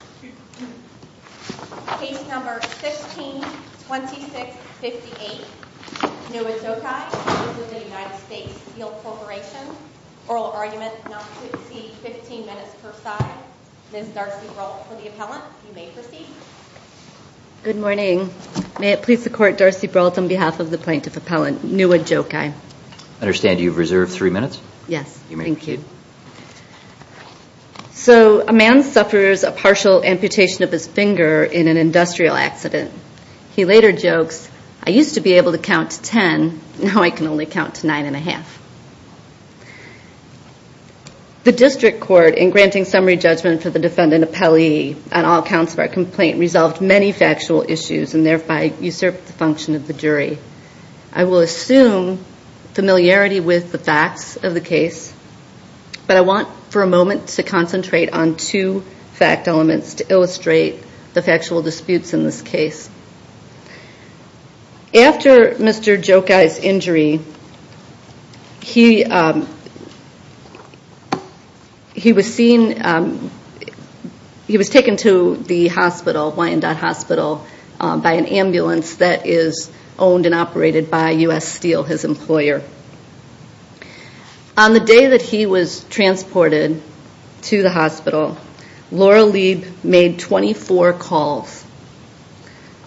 15 minutes per side. Ms. Darcy Brault for the appellant. You may proceed. Good morning. May it please the Court, Darcy Brault on behalf of the plaintiff appellant Nua Gjokaj. I understand you've reserved three minutes? Yes. Thank you. Thank you. So a man suffers a partial amputation of his finger in an industrial accident. He later jokes, I used to be able to count to 10, now I can only count to 9 1⁄2. The district court in granting summary judgment for the defendant appellee on all counts of our complaint resolved many factual issues and thereby usurped the function of the jury. I will assume familiarity with the facts of the case, but I want for a moment to concentrate on two fact elements to illustrate the factual disputes in this case. After Mr. Gjokaj's injury, he was seen, he was taken to the hospital, Wyandotte Hospital, by an ambulance that is owned and operated by U.S. Steel, his employer. On the day that he was transported to the hospital, Laura Lieb made 24 calls.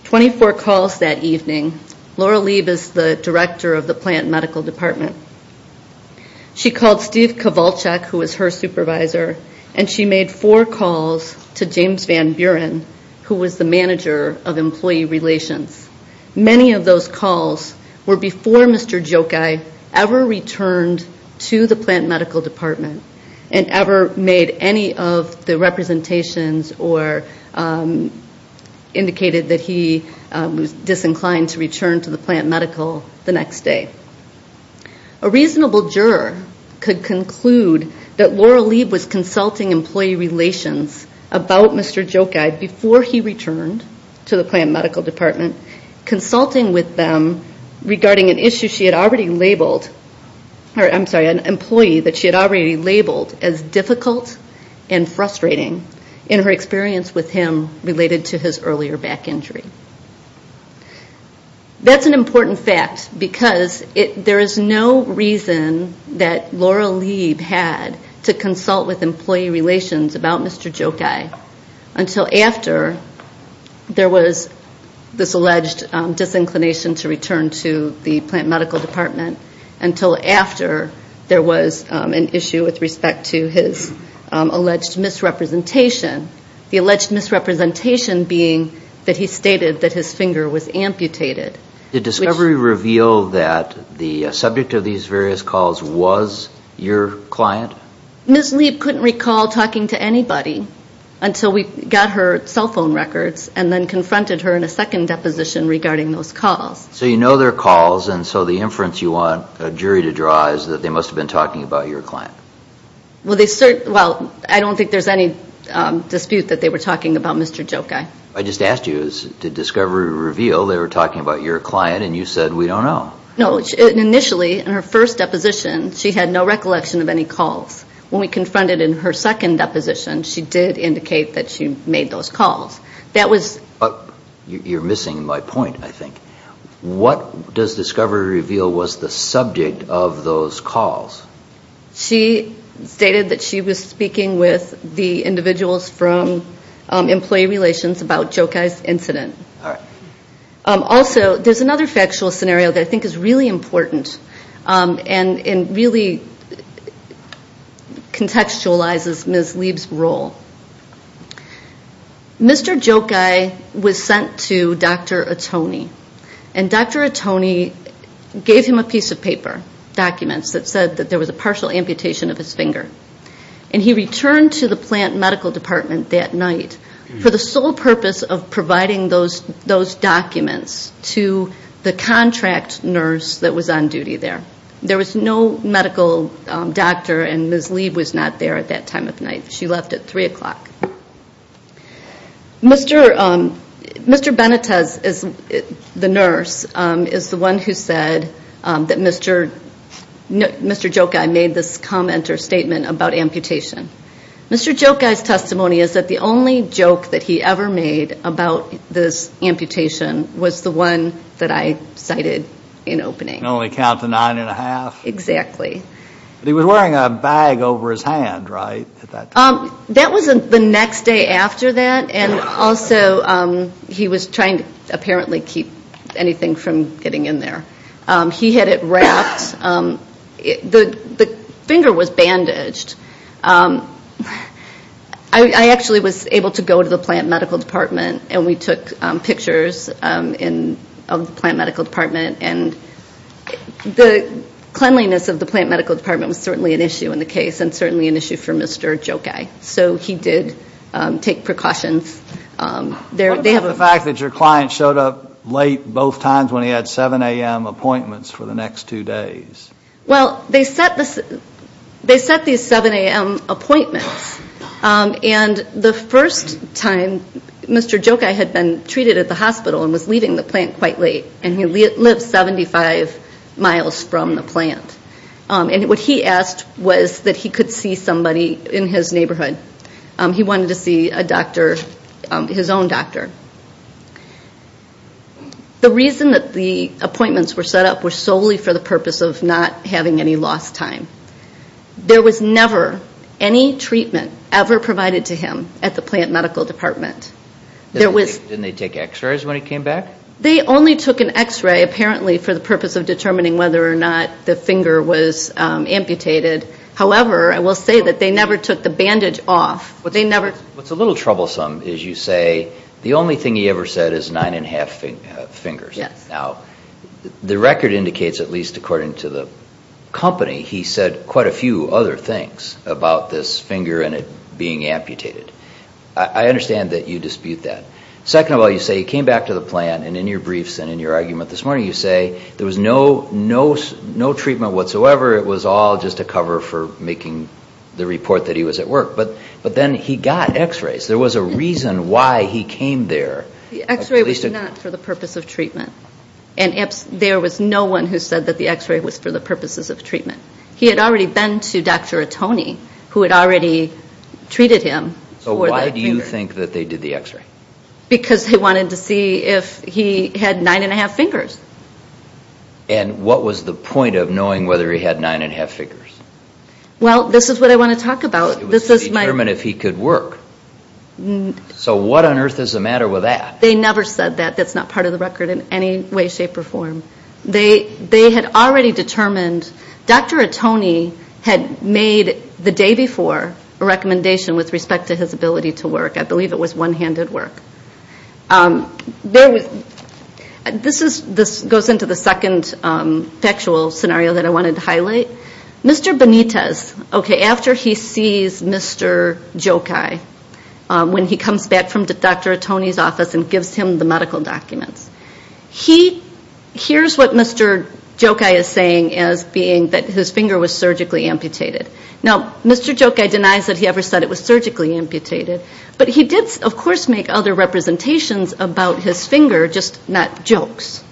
Twenty-four calls that evening. Laura Lieb is the director of the plant medical department. She called Steve Kowalczak, who was her supervisor, and she made four calls to James Van Buren, who was the manager of employee relations. Many of those calls were before Mr. Gjokaj ever returned to the plant medical department and ever made any of the representations or indicated that he was disinclined to return to the plant medical the next day. A reasonable juror could conclude that Laura Lieb was consulting employee relations about Mr. Gjokaj before he returned to the plant medical department, consulting with them regarding an employee that she had already labeled as difficult and frustrating in her experience with him related to his earlier back injury. That's an important fact because there is no reason that Laura Lieb had to consult with employee relations about disinclination to return to the plant medical department until after there was an issue with respect to his alleged misrepresentation. The alleged misrepresentation being that he stated that his finger was amputated. Did discovery reveal that the subject of these various calls was your client? Ms. Lieb couldn't recall talking to anybody until we got her those calls. So you know they're calls and so the inference you want a jury to draw is that they must have been talking about your client. Well, I don't think there's any dispute that they were talking about Mr. Gjokaj. I just asked you, did discovery reveal they were talking about your client and you said we don't know. No, initially in her first deposition she had no recollection of any calls. When we confronted in her second deposition she did indicate that she made those calls. You're missing my point I think. What does discovery reveal was the subject of those calls? She stated that she was speaking with the individuals from employee relations about Gjokaj's incident. Also, there's another factual scenario that I think is really important and really contextualizes Ms. Lieb's role Mr. Gjokaj was sent to Dr. Atone and Dr. Atone gave him a piece of paper, documents that said that there was a partial amputation of his finger. And he returned to the plant medical department that night for the sole purpose of providing those documents to the contract nurse that was on duty there. There was no medical doctor and Ms. Lieb was not there at that time of night. She left at 3 o'clock. Mr. Benitez, the nurse, is the one who said that Mr. Gjokaj made this comment or statement about amputation. Mr. Gjokaj's testimony is that the only joke that he ever made about this amputation was the one that I cited in opening. Can only count to nine and a half? Exactly. He was wearing a bag over his hand, right? That was the next day after that and also he was trying to apparently keep anything from getting in there. He had it wrapped. The finger was bandaged. I actually was able to go to the plant medical department and we took pictures of the plant medical department and the cleanliness of the plant medical department was certainly an issue in the case and certainly an issue for Mr. Gjokaj so he did take precautions. What about the fact that your client showed up late both times when he had 7 a.m. appointments for the next two days? Well, they set these 7 a.m. appointments and the first time Mr. Gjokaj had been treated at the hospital and was leaving the plant quite late and he lived 75 miles from the plant and what he asked was that he could see somebody in his neighborhood. He wanted to see a doctor, his own doctor. The reason that the appointments were set up was solely for the purpose of not having any lost time. There was never any treatment ever provided to him at the plant medical department. Didn't they take x-rays when he was amputated? However, I will say that they never took the bandage off. What's a little troublesome is you say the only thing he ever said is 9 1⁄2 fingers. Now, the record indicates at least according to the company he said quite a few other things about this finger and it being amputated. I understand that you dispute that. Second of all you say he came back to the plant and in your briefs and in your argument this morning you say there was no treatment whatsoever. It was all just a cover for making the report that he was at work. But then he got x-rays. There was a reason why he came there. The x-ray was not for the purpose of treatment and there was no one who said that the x-ray was for the purposes of treatment. He had already been to Dr. Atoni who had already treated him for the finger. So why do you think that they did the x-ray? Because they wanted to see if he had 9 1⁄2 fingers. And what was the point of knowing whether he had 9 1⁄2 fingers? Well this is what I want to talk about. It was to determine if he could work. So what on earth is the matter with that? They never said that. That's not part of the record in any way, shape or form. They had already determined. Dr. Atoni had made the day before a recommendation with respect to his ability to work. I believe it was one-handed work. This goes into the second factual scenario that I wanted to highlight. Mr. Benitez, after he sees Mr. Jokaj when he comes back from Dr. Atoni's office and gives him the medical documents, here's what Mr. Jokaj is saying as being that his finger was surgically amputated. Now Mr. Jokaj denies that he ever said it was surgically amputated, but he did of course make other representations about his finger, just not jokes.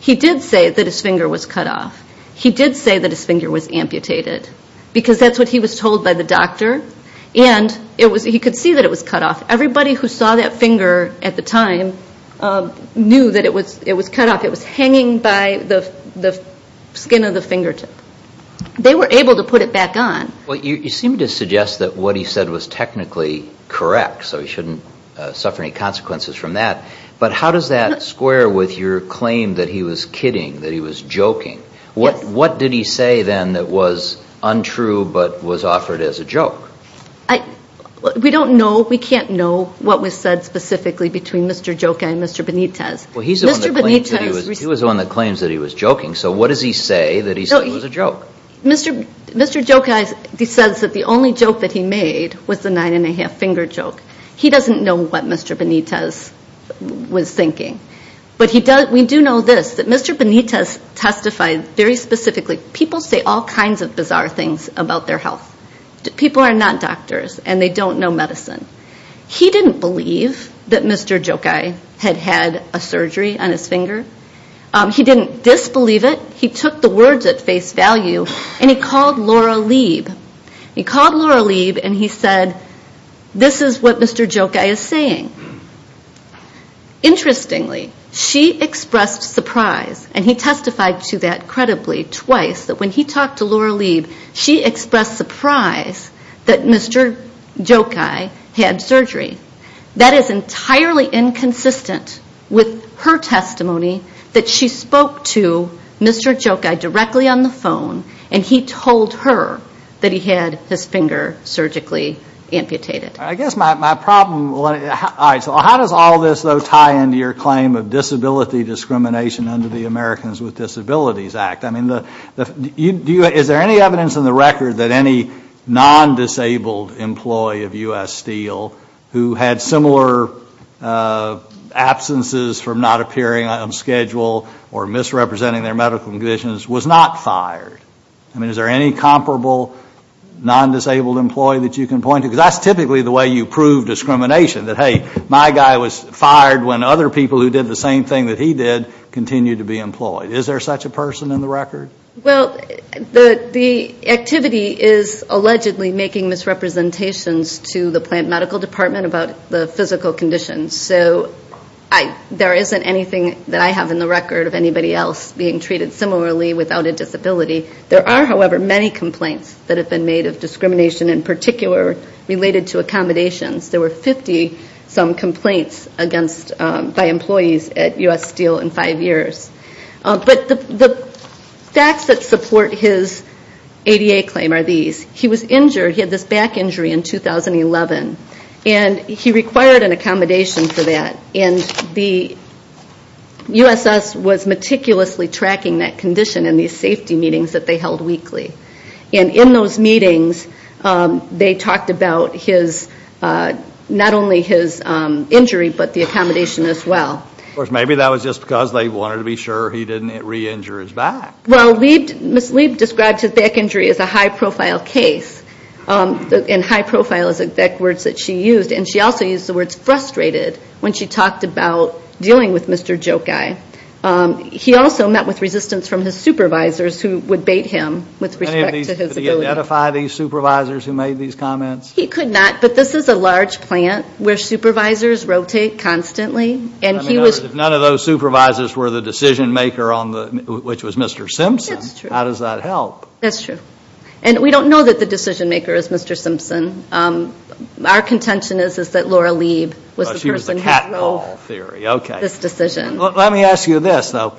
He did say that his finger was cut off. He did say that his finger was amputated because that's what he was told by the doctor. And he could see that it was cut off. Everybody who saw that finger at the time knew that it was cut off. It was hanging by the skin of the fingertip. They were able to put it back on. You seem to suggest that what he said was technically correct, so he shouldn't suffer any consequences from that. But how does that square with your claim that he was kidding, that he was joking? What did he say then that was untrue but was offered as a joke? We don't know. We can't know what was said specifically between Mr. Jokaj and Mr. Benitez. He was on the claims that he was joking, so what does he say that he said was a joke? Mr. Jokaj says that the only joke that he made was the nine and a half finger joke. He doesn't know what Mr. Benitez was thinking. But we do know this, that Mr. Benitez testified very specifically. People say all kinds of bizarre things about their health. People are not doctors and they don't know medicine. He didn't believe that Mr. Jokaj had had a surgery on his finger. He didn't disbelieve it. He took the words at face value and he called Laura Lieb. He called Laura Lieb and he said, this is what Mr. Jokaj is saying. Interestingly, she expressed surprise and he testified to that credibly twice that when he talked to Laura Lieb, she expressed surprise that Mr. Jokaj had surgery. That is entirely inconsistent with her testimony that she spoke to Mr. Jokaj directly on the phone and he told her that he had his finger surgically amputated. I guess my problem, how does all this tie into your claim of disability discrimination under the Americans with Disabilities Act? Is there any evidence in the record that any absences from not appearing on schedule or misrepresenting their medical conditions was not fired? I mean, is there any comparable non-disabled employee that you can point to? Because that's typically the way you prove discrimination, that hey, my guy was fired when other people who did the same thing that he did continued to be employed. Is there such a person in the record? Well, the activity is allegedly making misrepresentations to the plant medical department about the physical conditions. So there isn't anything that I have in the record of anybody else being treated similarly without a disability. There are, however, many complaints that have been made of discrimination in particular related to accommodations. There were 50 some complaints by employees at U.S. Steel in five years. But the facts that support his ADA claim are these. He was injured. He had this back injury in 2011. And he required an accommodation for that. And the USS was meticulously tracking that condition in these safety meetings that they held weekly. And in those meetings, they talked about his, not only his injury, but the accommodation as well. Of course, maybe that was just because they wanted to be sure he didn't re-injure his back. Well, Ms. Lieb described his back injury as a high-profile case. And high-profile is the exact words that she used. And she also used the words frustrated when she talked about dealing with Mr. Jokai. He also met with resistance from his supervisors who would bait him with respect to his ability. Did he identify these supervisors who made these comments? He could not. But this is a large plant where supervisors rotate constantly. If none of those supervisors were the decision-maker, which was Mr. Simpson, how does that help? That's true. And we don't know that the decision-maker is Mr. Simpson. Our contention is that Laura Lieb was the person who drove this decision. Let me ask you this, though.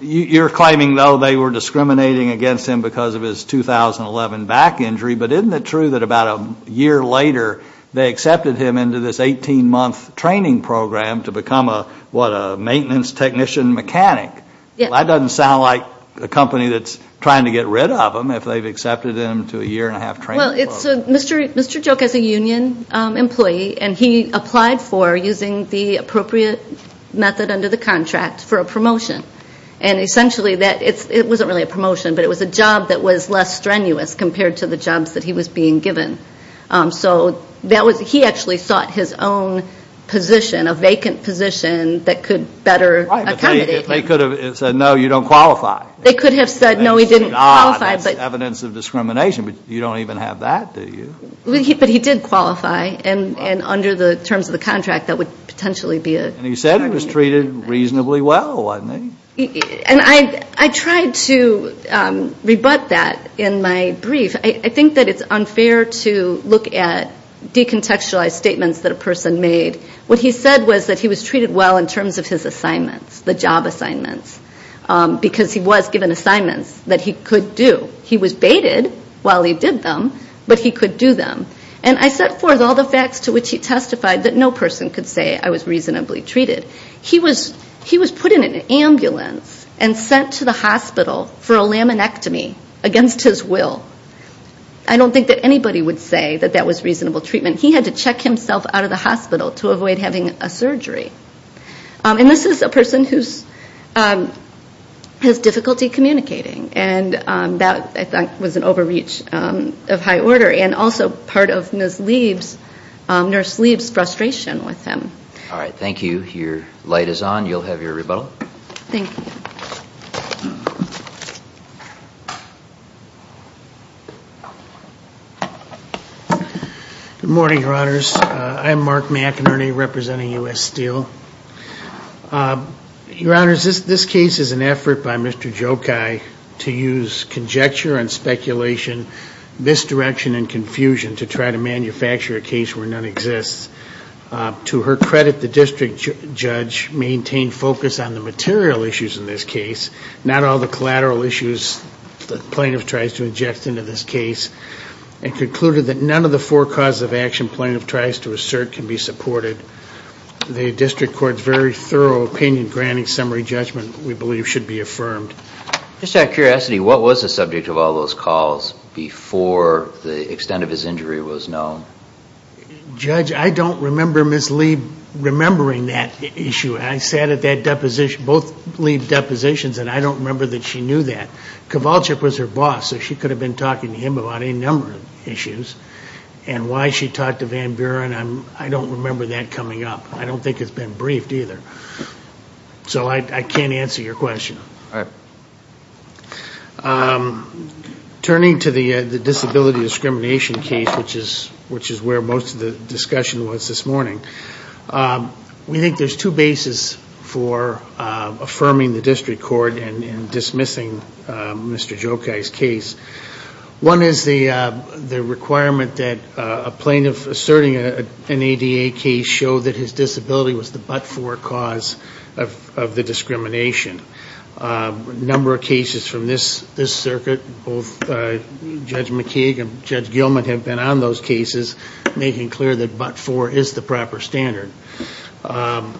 You're claiming, though, they were discriminating against him because of his 2011 back injury. But isn't it true that about a year later, they accepted him into this 18-month training program to become a, what, a maintenance technician mechanic? That doesn't sound like a company that's trying to get rid of him if they've accepted him to a year-and-a-half training program. Well, Mr. Jokai is a union employee. And he applied for, using the appropriate method under the contract, for a promotion. And essentially, it wasn't really a promotion, but it was a job that was less strenuous compared to the jobs that he was being given. So he actually sought his own position, a vacant position, that could better accommodate him. Right. But they could have said, no, you don't qualify. They could have said, no, he didn't qualify. That's not evidence of discrimination. But you don't even have that, do you? But he did qualify. And under the terms of the contract, that would potentially be a promotion. And he said he was treated reasonably well, wasn't he? And I tried to rebut that in my brief. I think that it's unfair to look at decontextualized statements that a person made. What he said was that he was treated well in terms of his assignments, the job assignments, because he was given assignments that he could do. He was baited while he did them, but he could do them. And I set forth all the facts to which he testified that no person could say, I was reasonably treated. He was put in an ambulance and sent to the hospital for a laminectomy against his will. I don't think that anybody would say that that was reasonable treatment. He had to check himself out of the hospital to avoid having a surgery. And this is a person who has difficulty communicating. And that, I think, was an overreach of high order and also part of Nurse Leib's frustration with him. All right. Thank you. Your light is on. You'll have your rebuttal. Thank you. Good morning, Your Honors. I'm Mark McInerney representing U.S. Steel. Your Honors, this case is an effort by Mr. Jokai to use conjecture and speculation, misdirection and confusion to try to manufacture a case where none exists. To her credit, the district judge maintained focus on the material issues in this case, not all the collateral issues the plaintiff tries to inject into this case, and concluded that none of the four causes of action plaintiff tries to assert can be supported. The district court's very thorough opinion granting summary judgment, we believe, should be affirmed. Just out of curiosity, what was the subject of all those calls before the extent of his injury was known? Judge, I don't remember Ms. Leib remembering that issue. I sat at that deposition, both Leib depositions, and I don't remember that she knew that. Kowalczyk was her boss, so she could have been talking to him about any number of issues. And why she talked to Van Buren, I don't remember that coming up. I don't think it's been briefed, either. So I can't answer your question. Turning to the disability discrimination case, which is where most of the discussion was this morning, we think there's two bases for affirming the district court and dismissing Mr. Jokaj's case. One is the requirement that a plaintiff asserting an ADA case show that his disability was the but-for cause of the discrimination. A number of cases from this circuit, both Judge McKeague and Judge Gilman have been on those cases, making clear that but-for is the proper standard. The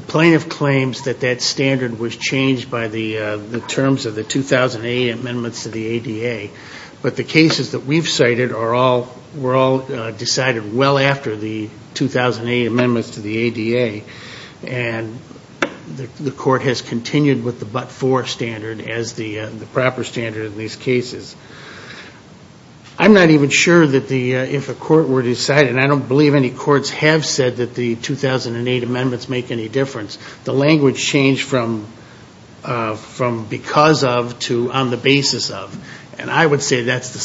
plaintiff claims that that standard was changed by the terms of the 2008 amendments to the ADA, but the cases that we've cited were all decided well after the 2008 amendments to the ADA, and the court has continued with the but-for standard as the proper standard in these cases. I'm not even sure that if a court were to decide, and I don't believe any courts have said that the 2008 amendments make any difference, the language changed from because of to on the basis of, and I would say that's the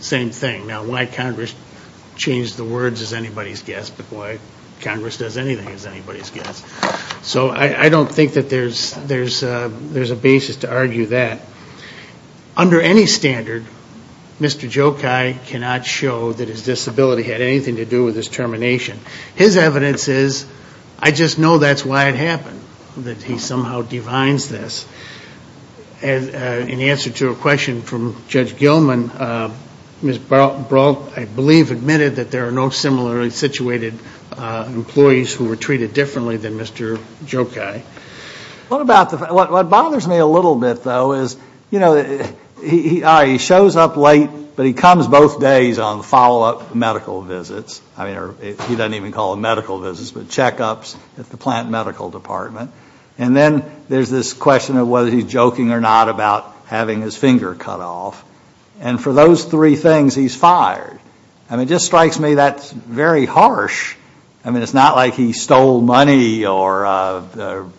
same thing. Now, why Congress changed the words is anybody's guess, but why Congress does anything is anybody's guess. So I don't think that there's a basis to argue that. Under any standard, Mr. Jokaj cannot show that his disability had anything to do with his termination. His evidence is, I just know that's why it happened, that he somehow divines this. In answer to a question from Judge Gilman, Ms. Brault, I believe, admitted that there are no similarly situated employees who were treated differently than Mr. Jokaj. What bothers me a little bit, though, is, you know, he shows up late, but he comes both days on follow-up medical visits. I mean, he doesn't even call them medical visits, but checkups at the plant medical department. And then there's this question of whether he's joking or not about having his finger cut off. And for those three things, he's fired. I mean, it just strikes me that's very harsh. I mean, it's not like he stole money or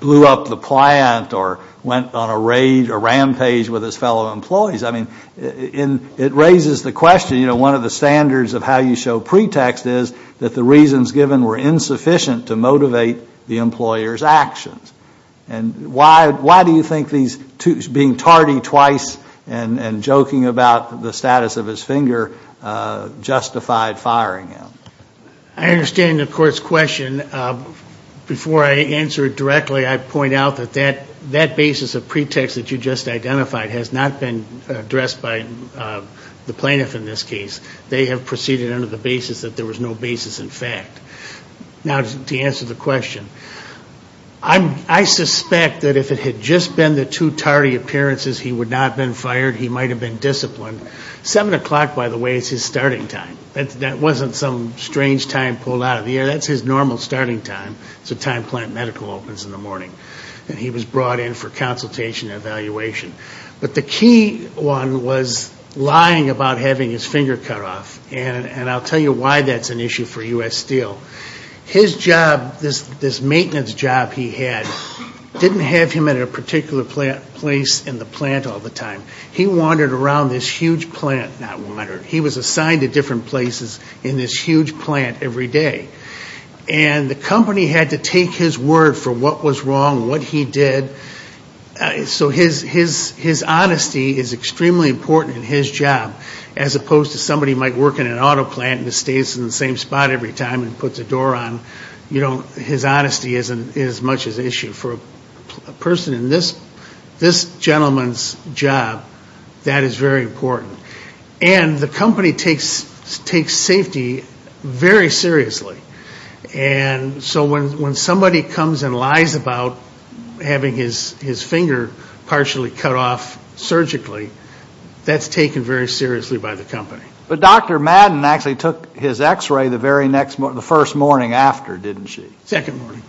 blew up the plant or went on a rampage with his fellow employees. I mean, it raises the question, you know, one of the standards of how you show pretext is that the reasons given were insufficient to motivate the employer's actions. And why do you think these two, being tardy twice and joking about the status of his finger, justified firing him? I understand the court's question. Before I answer it directly, I point out that that basis of pretext that you just identified has not been addressed by the plaintiff in this case. They have proceeded under the basis that there was no basis in fact. Now, to answer the question, I suspect that if it had just been the two tardy appearances, he would not have been fired. He might have been disciplined. Seven o'clock, by the way, is his starting time. That wasn't some strange time pulled out of the air. That's his normal starting time. It's the time plant medical opens in the morning. And he was brought in for consultation and evaluation. But the key one was lying about having his finger cut off. And I'll tell you why that's an issue for U.S. Steel. His job, this maintenance job he had, didn't have him at a particular place in the plant all the time. He wandered around this huge plant. He was assigned to different places in this huge plant every day. And the company had to take his word for what was wrong, what he did. So his honesty is extremely important in his job, as opposed to somebody who might work in an auto plant and just stays in the same spot every time and puts a door on. You know, his honesty isn't as much of an issue for a person in this gentleman's job. That is very important. And the company takes safety very seriously. And so when somebody comes and lies about having his finger partially cut off surgically, that's taken very seriously by the company. But Dr. Madden actually took his x-ray the very next morning, the first morning after, didn't she? Second morning.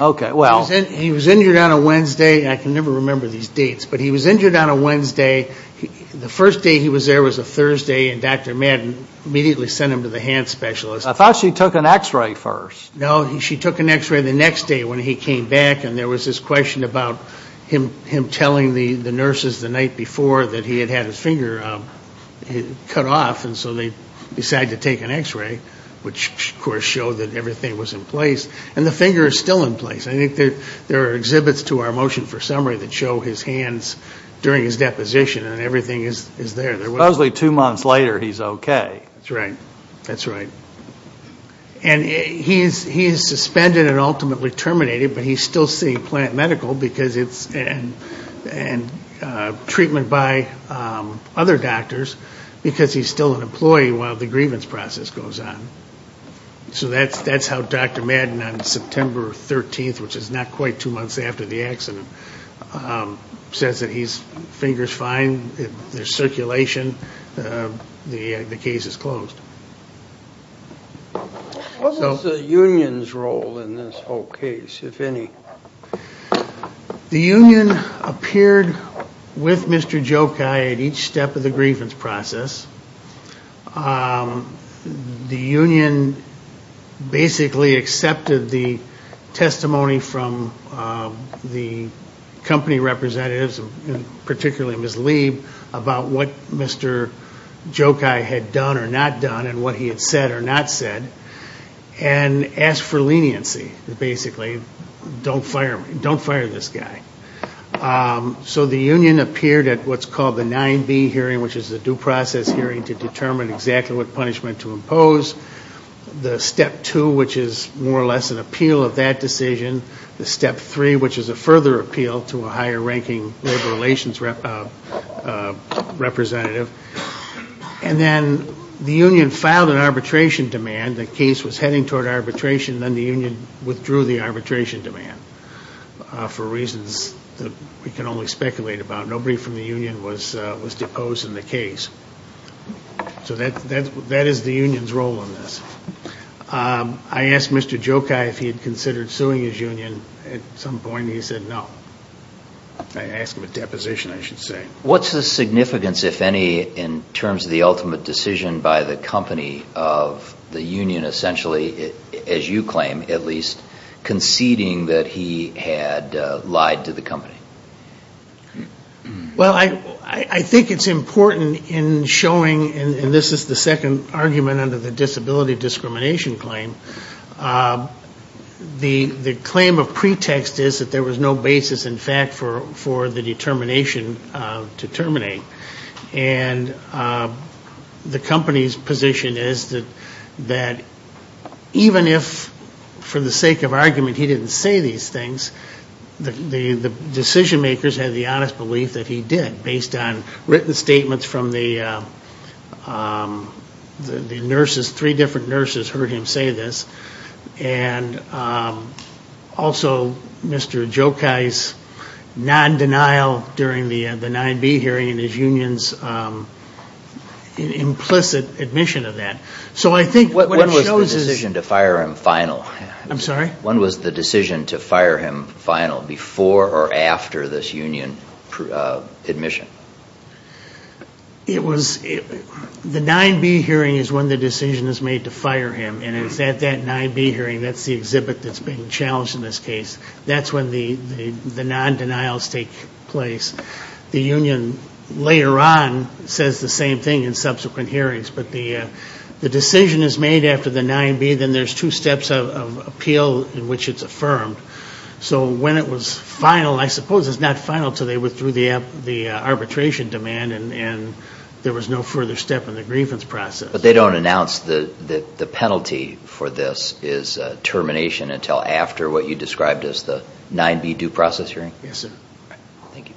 Okay, well. He was injured on a Wednesday. I can never remember these dates. But he was injured on a Wednesday. The first day he was there was a Thursday. And Dr. Madden immediately sent him to the hand specialist. I thought she took an x-ray first. No, she took an x-ray the next day when he came back. And there was this question about him telling the nurses the night before that he had had his finger cut off. And so they decided to take an x-ray, which of course showed that everything was in place. And the finger is still in place. I think there are exhibits to our motion for summary that show his hands during his deposition. And everything is there. Supposedly two months later, he's okay. That's right. That's right. And he is suspended and ultimately terminated, but he's still seeing plant medical and treatment by other doctors because he's still an employee while the grievance process goes on. So that's how Dr. Madden on September 13th, which is not quite two months after the accident, says that his finger is fine. There's circulation. The case is closed. What was the union's role in this whole case, if any? The union appeared with Mr. Jokai at each step of the grievance process. The union basically accepted the testimony from the company representatives, particularly Ms. Lieb, about what Mr. Jokai had done or not done, and what he had said or not said, and asked for leniency, basically. Don't fire me. Don't fire this guy. So the union appeared at what's called the 9B hearing, which is a due process hearing to determine exactly what punishment to impose. The step two, which is more or less an appeal of that decision. The step three, which is a further appeal to a higher ranking labor relations representative. And then the union filed an arbitration demand. The case was heading toward arbitration, and then the union withdrew the arbitration demand for reasons that we can only speculate about. Nobody from the union was deposed in the case. So that is the union's role in this. I asked Mr. Jokai if he had considered suing his union. At some point, he said no. I asked him a deposition, I should say. What's the significance, if any, in terms of the ultimate decision by the company of the union essentially, as you claim at least, conceding that he had lied to the company? Well I think it's important in showing, and this is the second argument under the disability discrimination claim, the claim of pretext is that there was no basis in fact for the termination to terminate. And the company's position is that even if for the sake of argument he didn't say these things, the decision makers had the honest belief that he did, based on written statements from the nurses, three different nurses heard him say this. And also Mr. Jokai's non-denial during the 9B hearing and his union's implicit admission of that. So I think what it shows is... When was the decision to fire him final? I'm sorry? When was the decision to fire him final, before or after this union admission? It was, the 9B hearing is when the decision is made to fire him. And it's at that 9B hearing, that's the exhibit that's being challenged in this case. That's when the non-denials take place. The union, later on, says the same thing in subsequent hearings. But the decision is made after the 9B, then there's two steps of appeal in which it's affirmed. So when it was final, I suppose it's not final until they withdrew the arbitration demand and there was no further step in the grievance process. But they don't announce the penalty for this is termination until after what you described as the 9B due process hearing? Yes, sir. Thank you.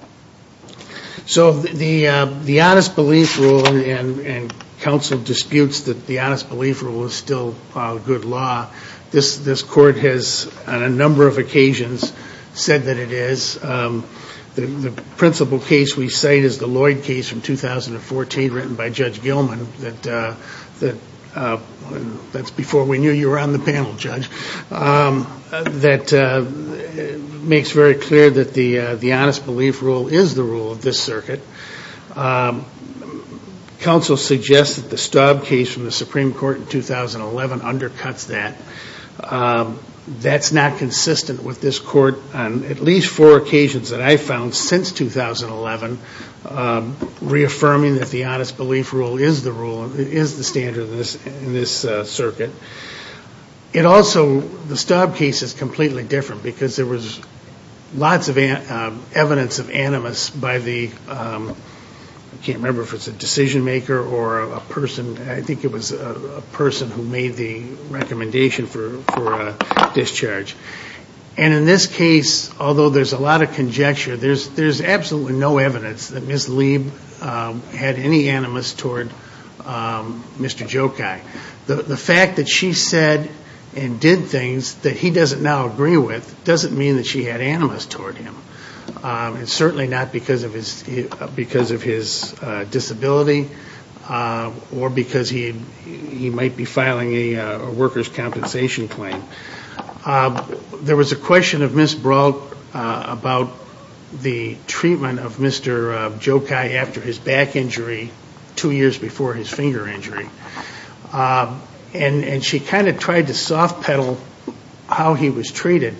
So the honest belief rule, and counsel disputes that the honest belief rule is still good law. This court has, on a number of occasions, said that it is. The principal case we cite is the Lloyd case from 2014 written by Judge Gilman. That's before we knew you were on the panel, Judge. That makes very clear that the honest belief rule is the rule of this circuit. Counsel suggests that the Staub case from the Supreme Court in 2011 undercuts that. That's not consistent with this court on at least four occasions that I've found since 2011 reaffirming that the honest belief rule is the rule, is the standard in this circuit. It also, the Staub case is completely different because there was lots of evidence of animus by the, I can't remember if it's a decision maker or a person, I think it was a person who made the recommendation for a discharge. And in this case, although there's a lot of conjecture, there's absolutely no evidence that Ms. Lieb had any animus toward Mr. Jokaj. The fact that she said and did things that he doesn't now agree with doesn't mean that she had animus toward him. And certainly not because of his disability or because he might be filing a worker's compensation claim. There was a question of Ms. Brault about the treatment of Mr. Jokaj after his back injury two years before his finger injury. And she kind of tried to soft pedal how he was treated.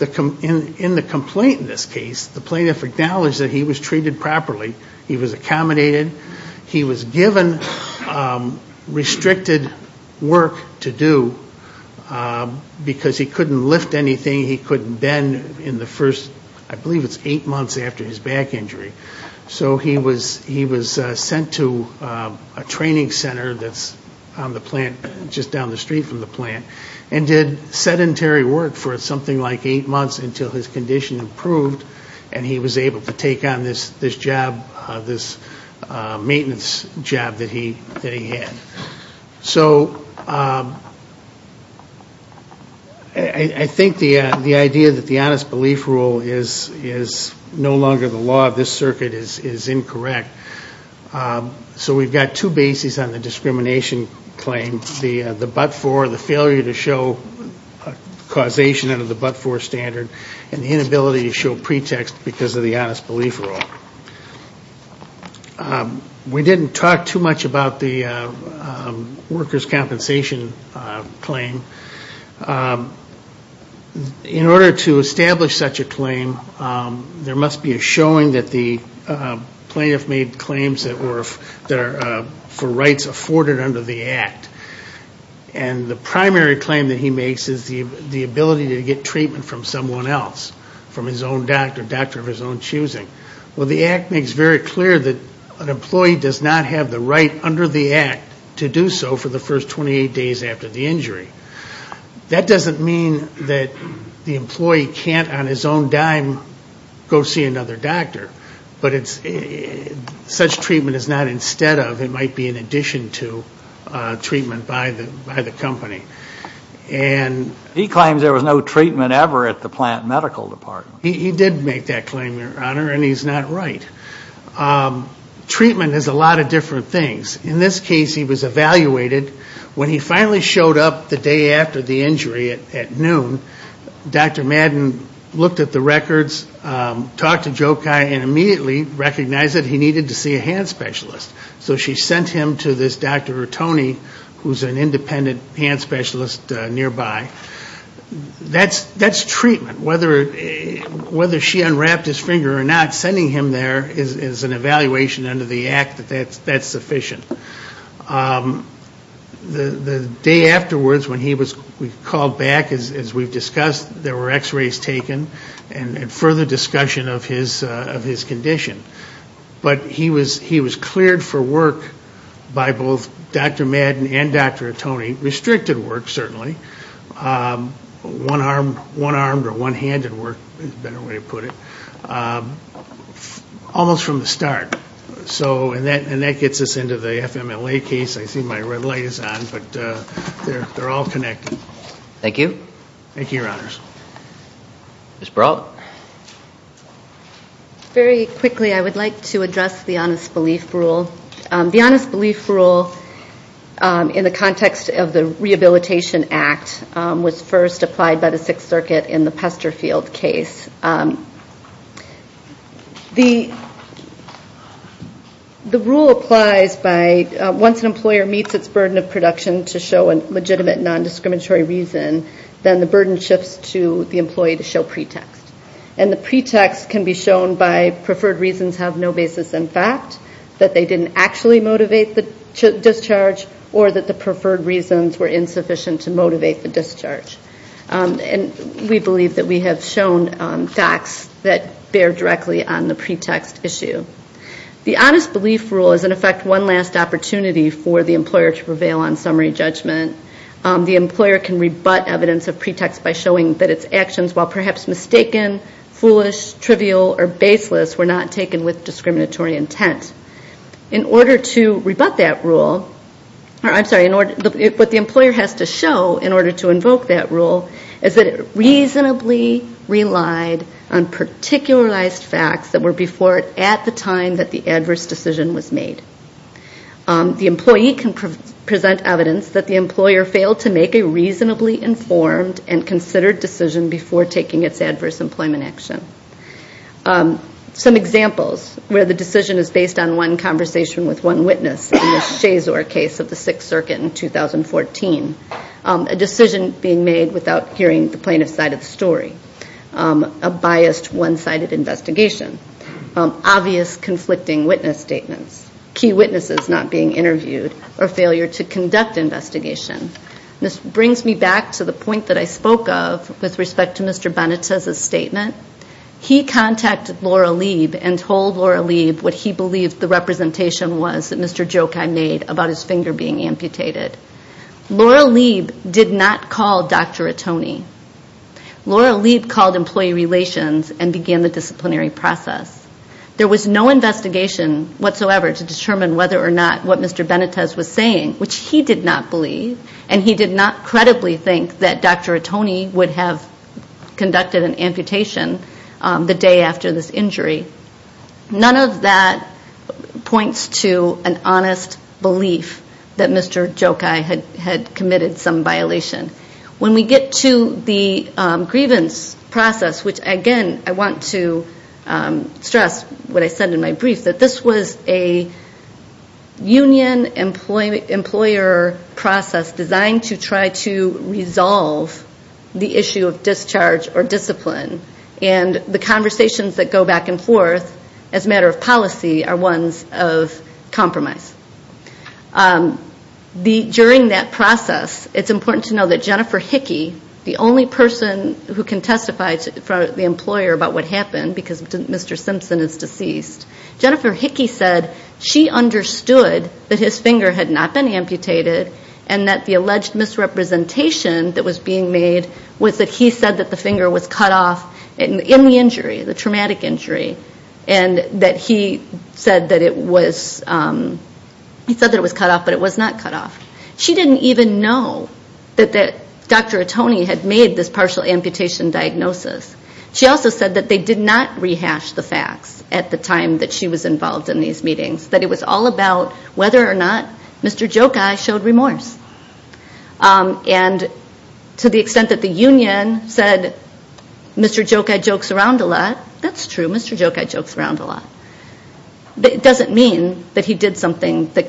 In the complaint in this case, the plaintiff acknowledged that he was treated properly, he was accommodated, he was given restricted work to do because he couldn't lift anything, he couldn't bend in the first, I believe it's eight months after his back injury. So he was sent to a training center that's on the plant, just down the street from the plant, and did sedentary work for something like eight months until his condition improved and he was able to take on this job, this maintenance job that he had. So I think the idea that the honest belief rule is no longer the law of this circuit is incorrect. So we've got two bases on the discrimination claim. The but-for, the failure to show causation under the but-for standard and the inability to show pretext because of the honest belief rule. We didn't talk too much about the worker's compensation claim. In order to establish such a claim, there must be a showing that the plaintiff made claims that for rights afforded under the Act. And the primary claim that he makes is the ability to get treatment from someone else, from his own doctor, doctor of his own choosing. Well, the Act makes very clear that an employee does not have the right under the Act to do so for the first 28 days after the injury. That doesn't mean that the employee can't on his own dime go see another doctor. But it's, such treatment is not instead of, it might be in addition to treatment by the company. He claims there was no treatment ever at the plant medical department. He did make that claim, your honor, and he's not right. Treatment is a lot of different things. In this case, he was evaluated. When he finally showed up the day after the injury at noon, Dr. Madden looked at the records, talked to Jokai, and immediately recognized that he needed to see a hand specialist. So she sent him to this Dr. Rotoni, who's an independent hand specialist nearby. That's treatment. Whether she unwrapped his finger or not, sending him there is an evaluation under the Act that that's sufficient. The day afterwards when he was called back, as we've discussed, there were x-rays taken and further discussion of his condition. But he was cleared for work by both Dr. Madden and Dr. Rotoni. Restricted work, certainly. One-armed or one-handed work, is a better way to put it. Almost from the start. And that gets us into the FMLA case. I see my red hand. Ms. Brault? Very quickly, I would like to address the honest belief rule. The honest belief rule in the context of the Rehabilitation Act was first applied by the Sixth Circuit in the Pesterfield case. The rule applies by, once an employer meets its burden of production to show legitimate nondiscriminatory reason, then the burden shifts to the employee to show pretext. And the pretext can be shown by preferred reasons have no basis in fact, that they didn't actually motivate the discharge, or that the preferred reasons were insufficient to motivate the discharge. And we believe that we have shown facts that bear directly on the pretext issue. The honest belief rule is, in effect, one last opportunity for the employer to prevail on summary judgment. The employer can rebut evidence of pretext by showing that its actions, while perhaps mistaken, foolish, trivial, or baseless, were not taken with discriminatory intent. In order to rebut that rule, I'm sorry, what the employer has to show in order to invoke that rule, is that it reasonably relied on particularized facts that were before it at the time that the adverse decision was made. The employee can present evidence that the employer failed to make a reasonably informed and considered decision before taking its adverse employment action. Some examples, where the decision is based on one conversation with one witness, in the Shazor case of the Sixth Circuit in 2014. A decision being made without hearing the plaintiff's side of the story. A biased, one-sided investigation. Obvious, conflicting witness statements. Key witnesses not being interviewed, or failure to conduct investigation. This brings me back to the point that I spoke of with respect to Mr. Benitez's statement. He contacted Laura Lieb and told Laura Lieb what he believed the representation was that Mr. Jokai made about his finger being amputated. Laura Lieb did not call Dr. Atone. Laura Lieb called employee relations and began the disciplinary process. There was no investigation whatsoever to determine whether or not what Mr. Benitez was saying, which he did not believe, and he did not credibly think that Dr. Atone would have conducted an amputation the day after this injury. None of that points to an honest belief that Mr. Jokai had committed some violation. When we get to the grievance process, which again I want to stress what I said in my brief, that this was a union employer process designed to try to resolve the issue of discharge or discipline. And the conversations that go back and forth as a matter of policy are ones of compromise. During that process, it's important to know that Jennifer Hickey, the only person who can testify in front of the employer about what happened because Mr. Simpson is deceased, Jennifer Hickey said she understood that his finger had not been amputated and that the alleged misrepresentation that was being made was that he said that the finger was cut off, but it was not cut off. She didn't even know that Dr. Atone had made this partial amputation diagnosis. She also said that they did not rehash the facts at the time that she was involved in these meetings, that it was all about whether or not Mr. Jokai showed remorse. And to the extent that the union said Mr. Jokai jokes around a lot, that's true, Mr. Jokai jokes around a lot, but it doesn't mean that he did something that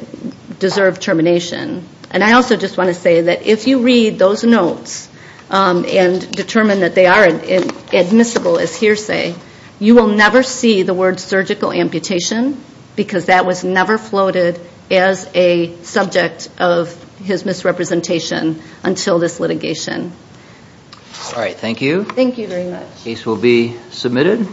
deserved termination. And I also just want to say that if you read those notes and determine that they are admissible as hearsay, you will never see the word surgical amputation because that was never floated as a subject of his misrepresentation until this litigation. All right, thank you. Thank you very much. Case will be submitted.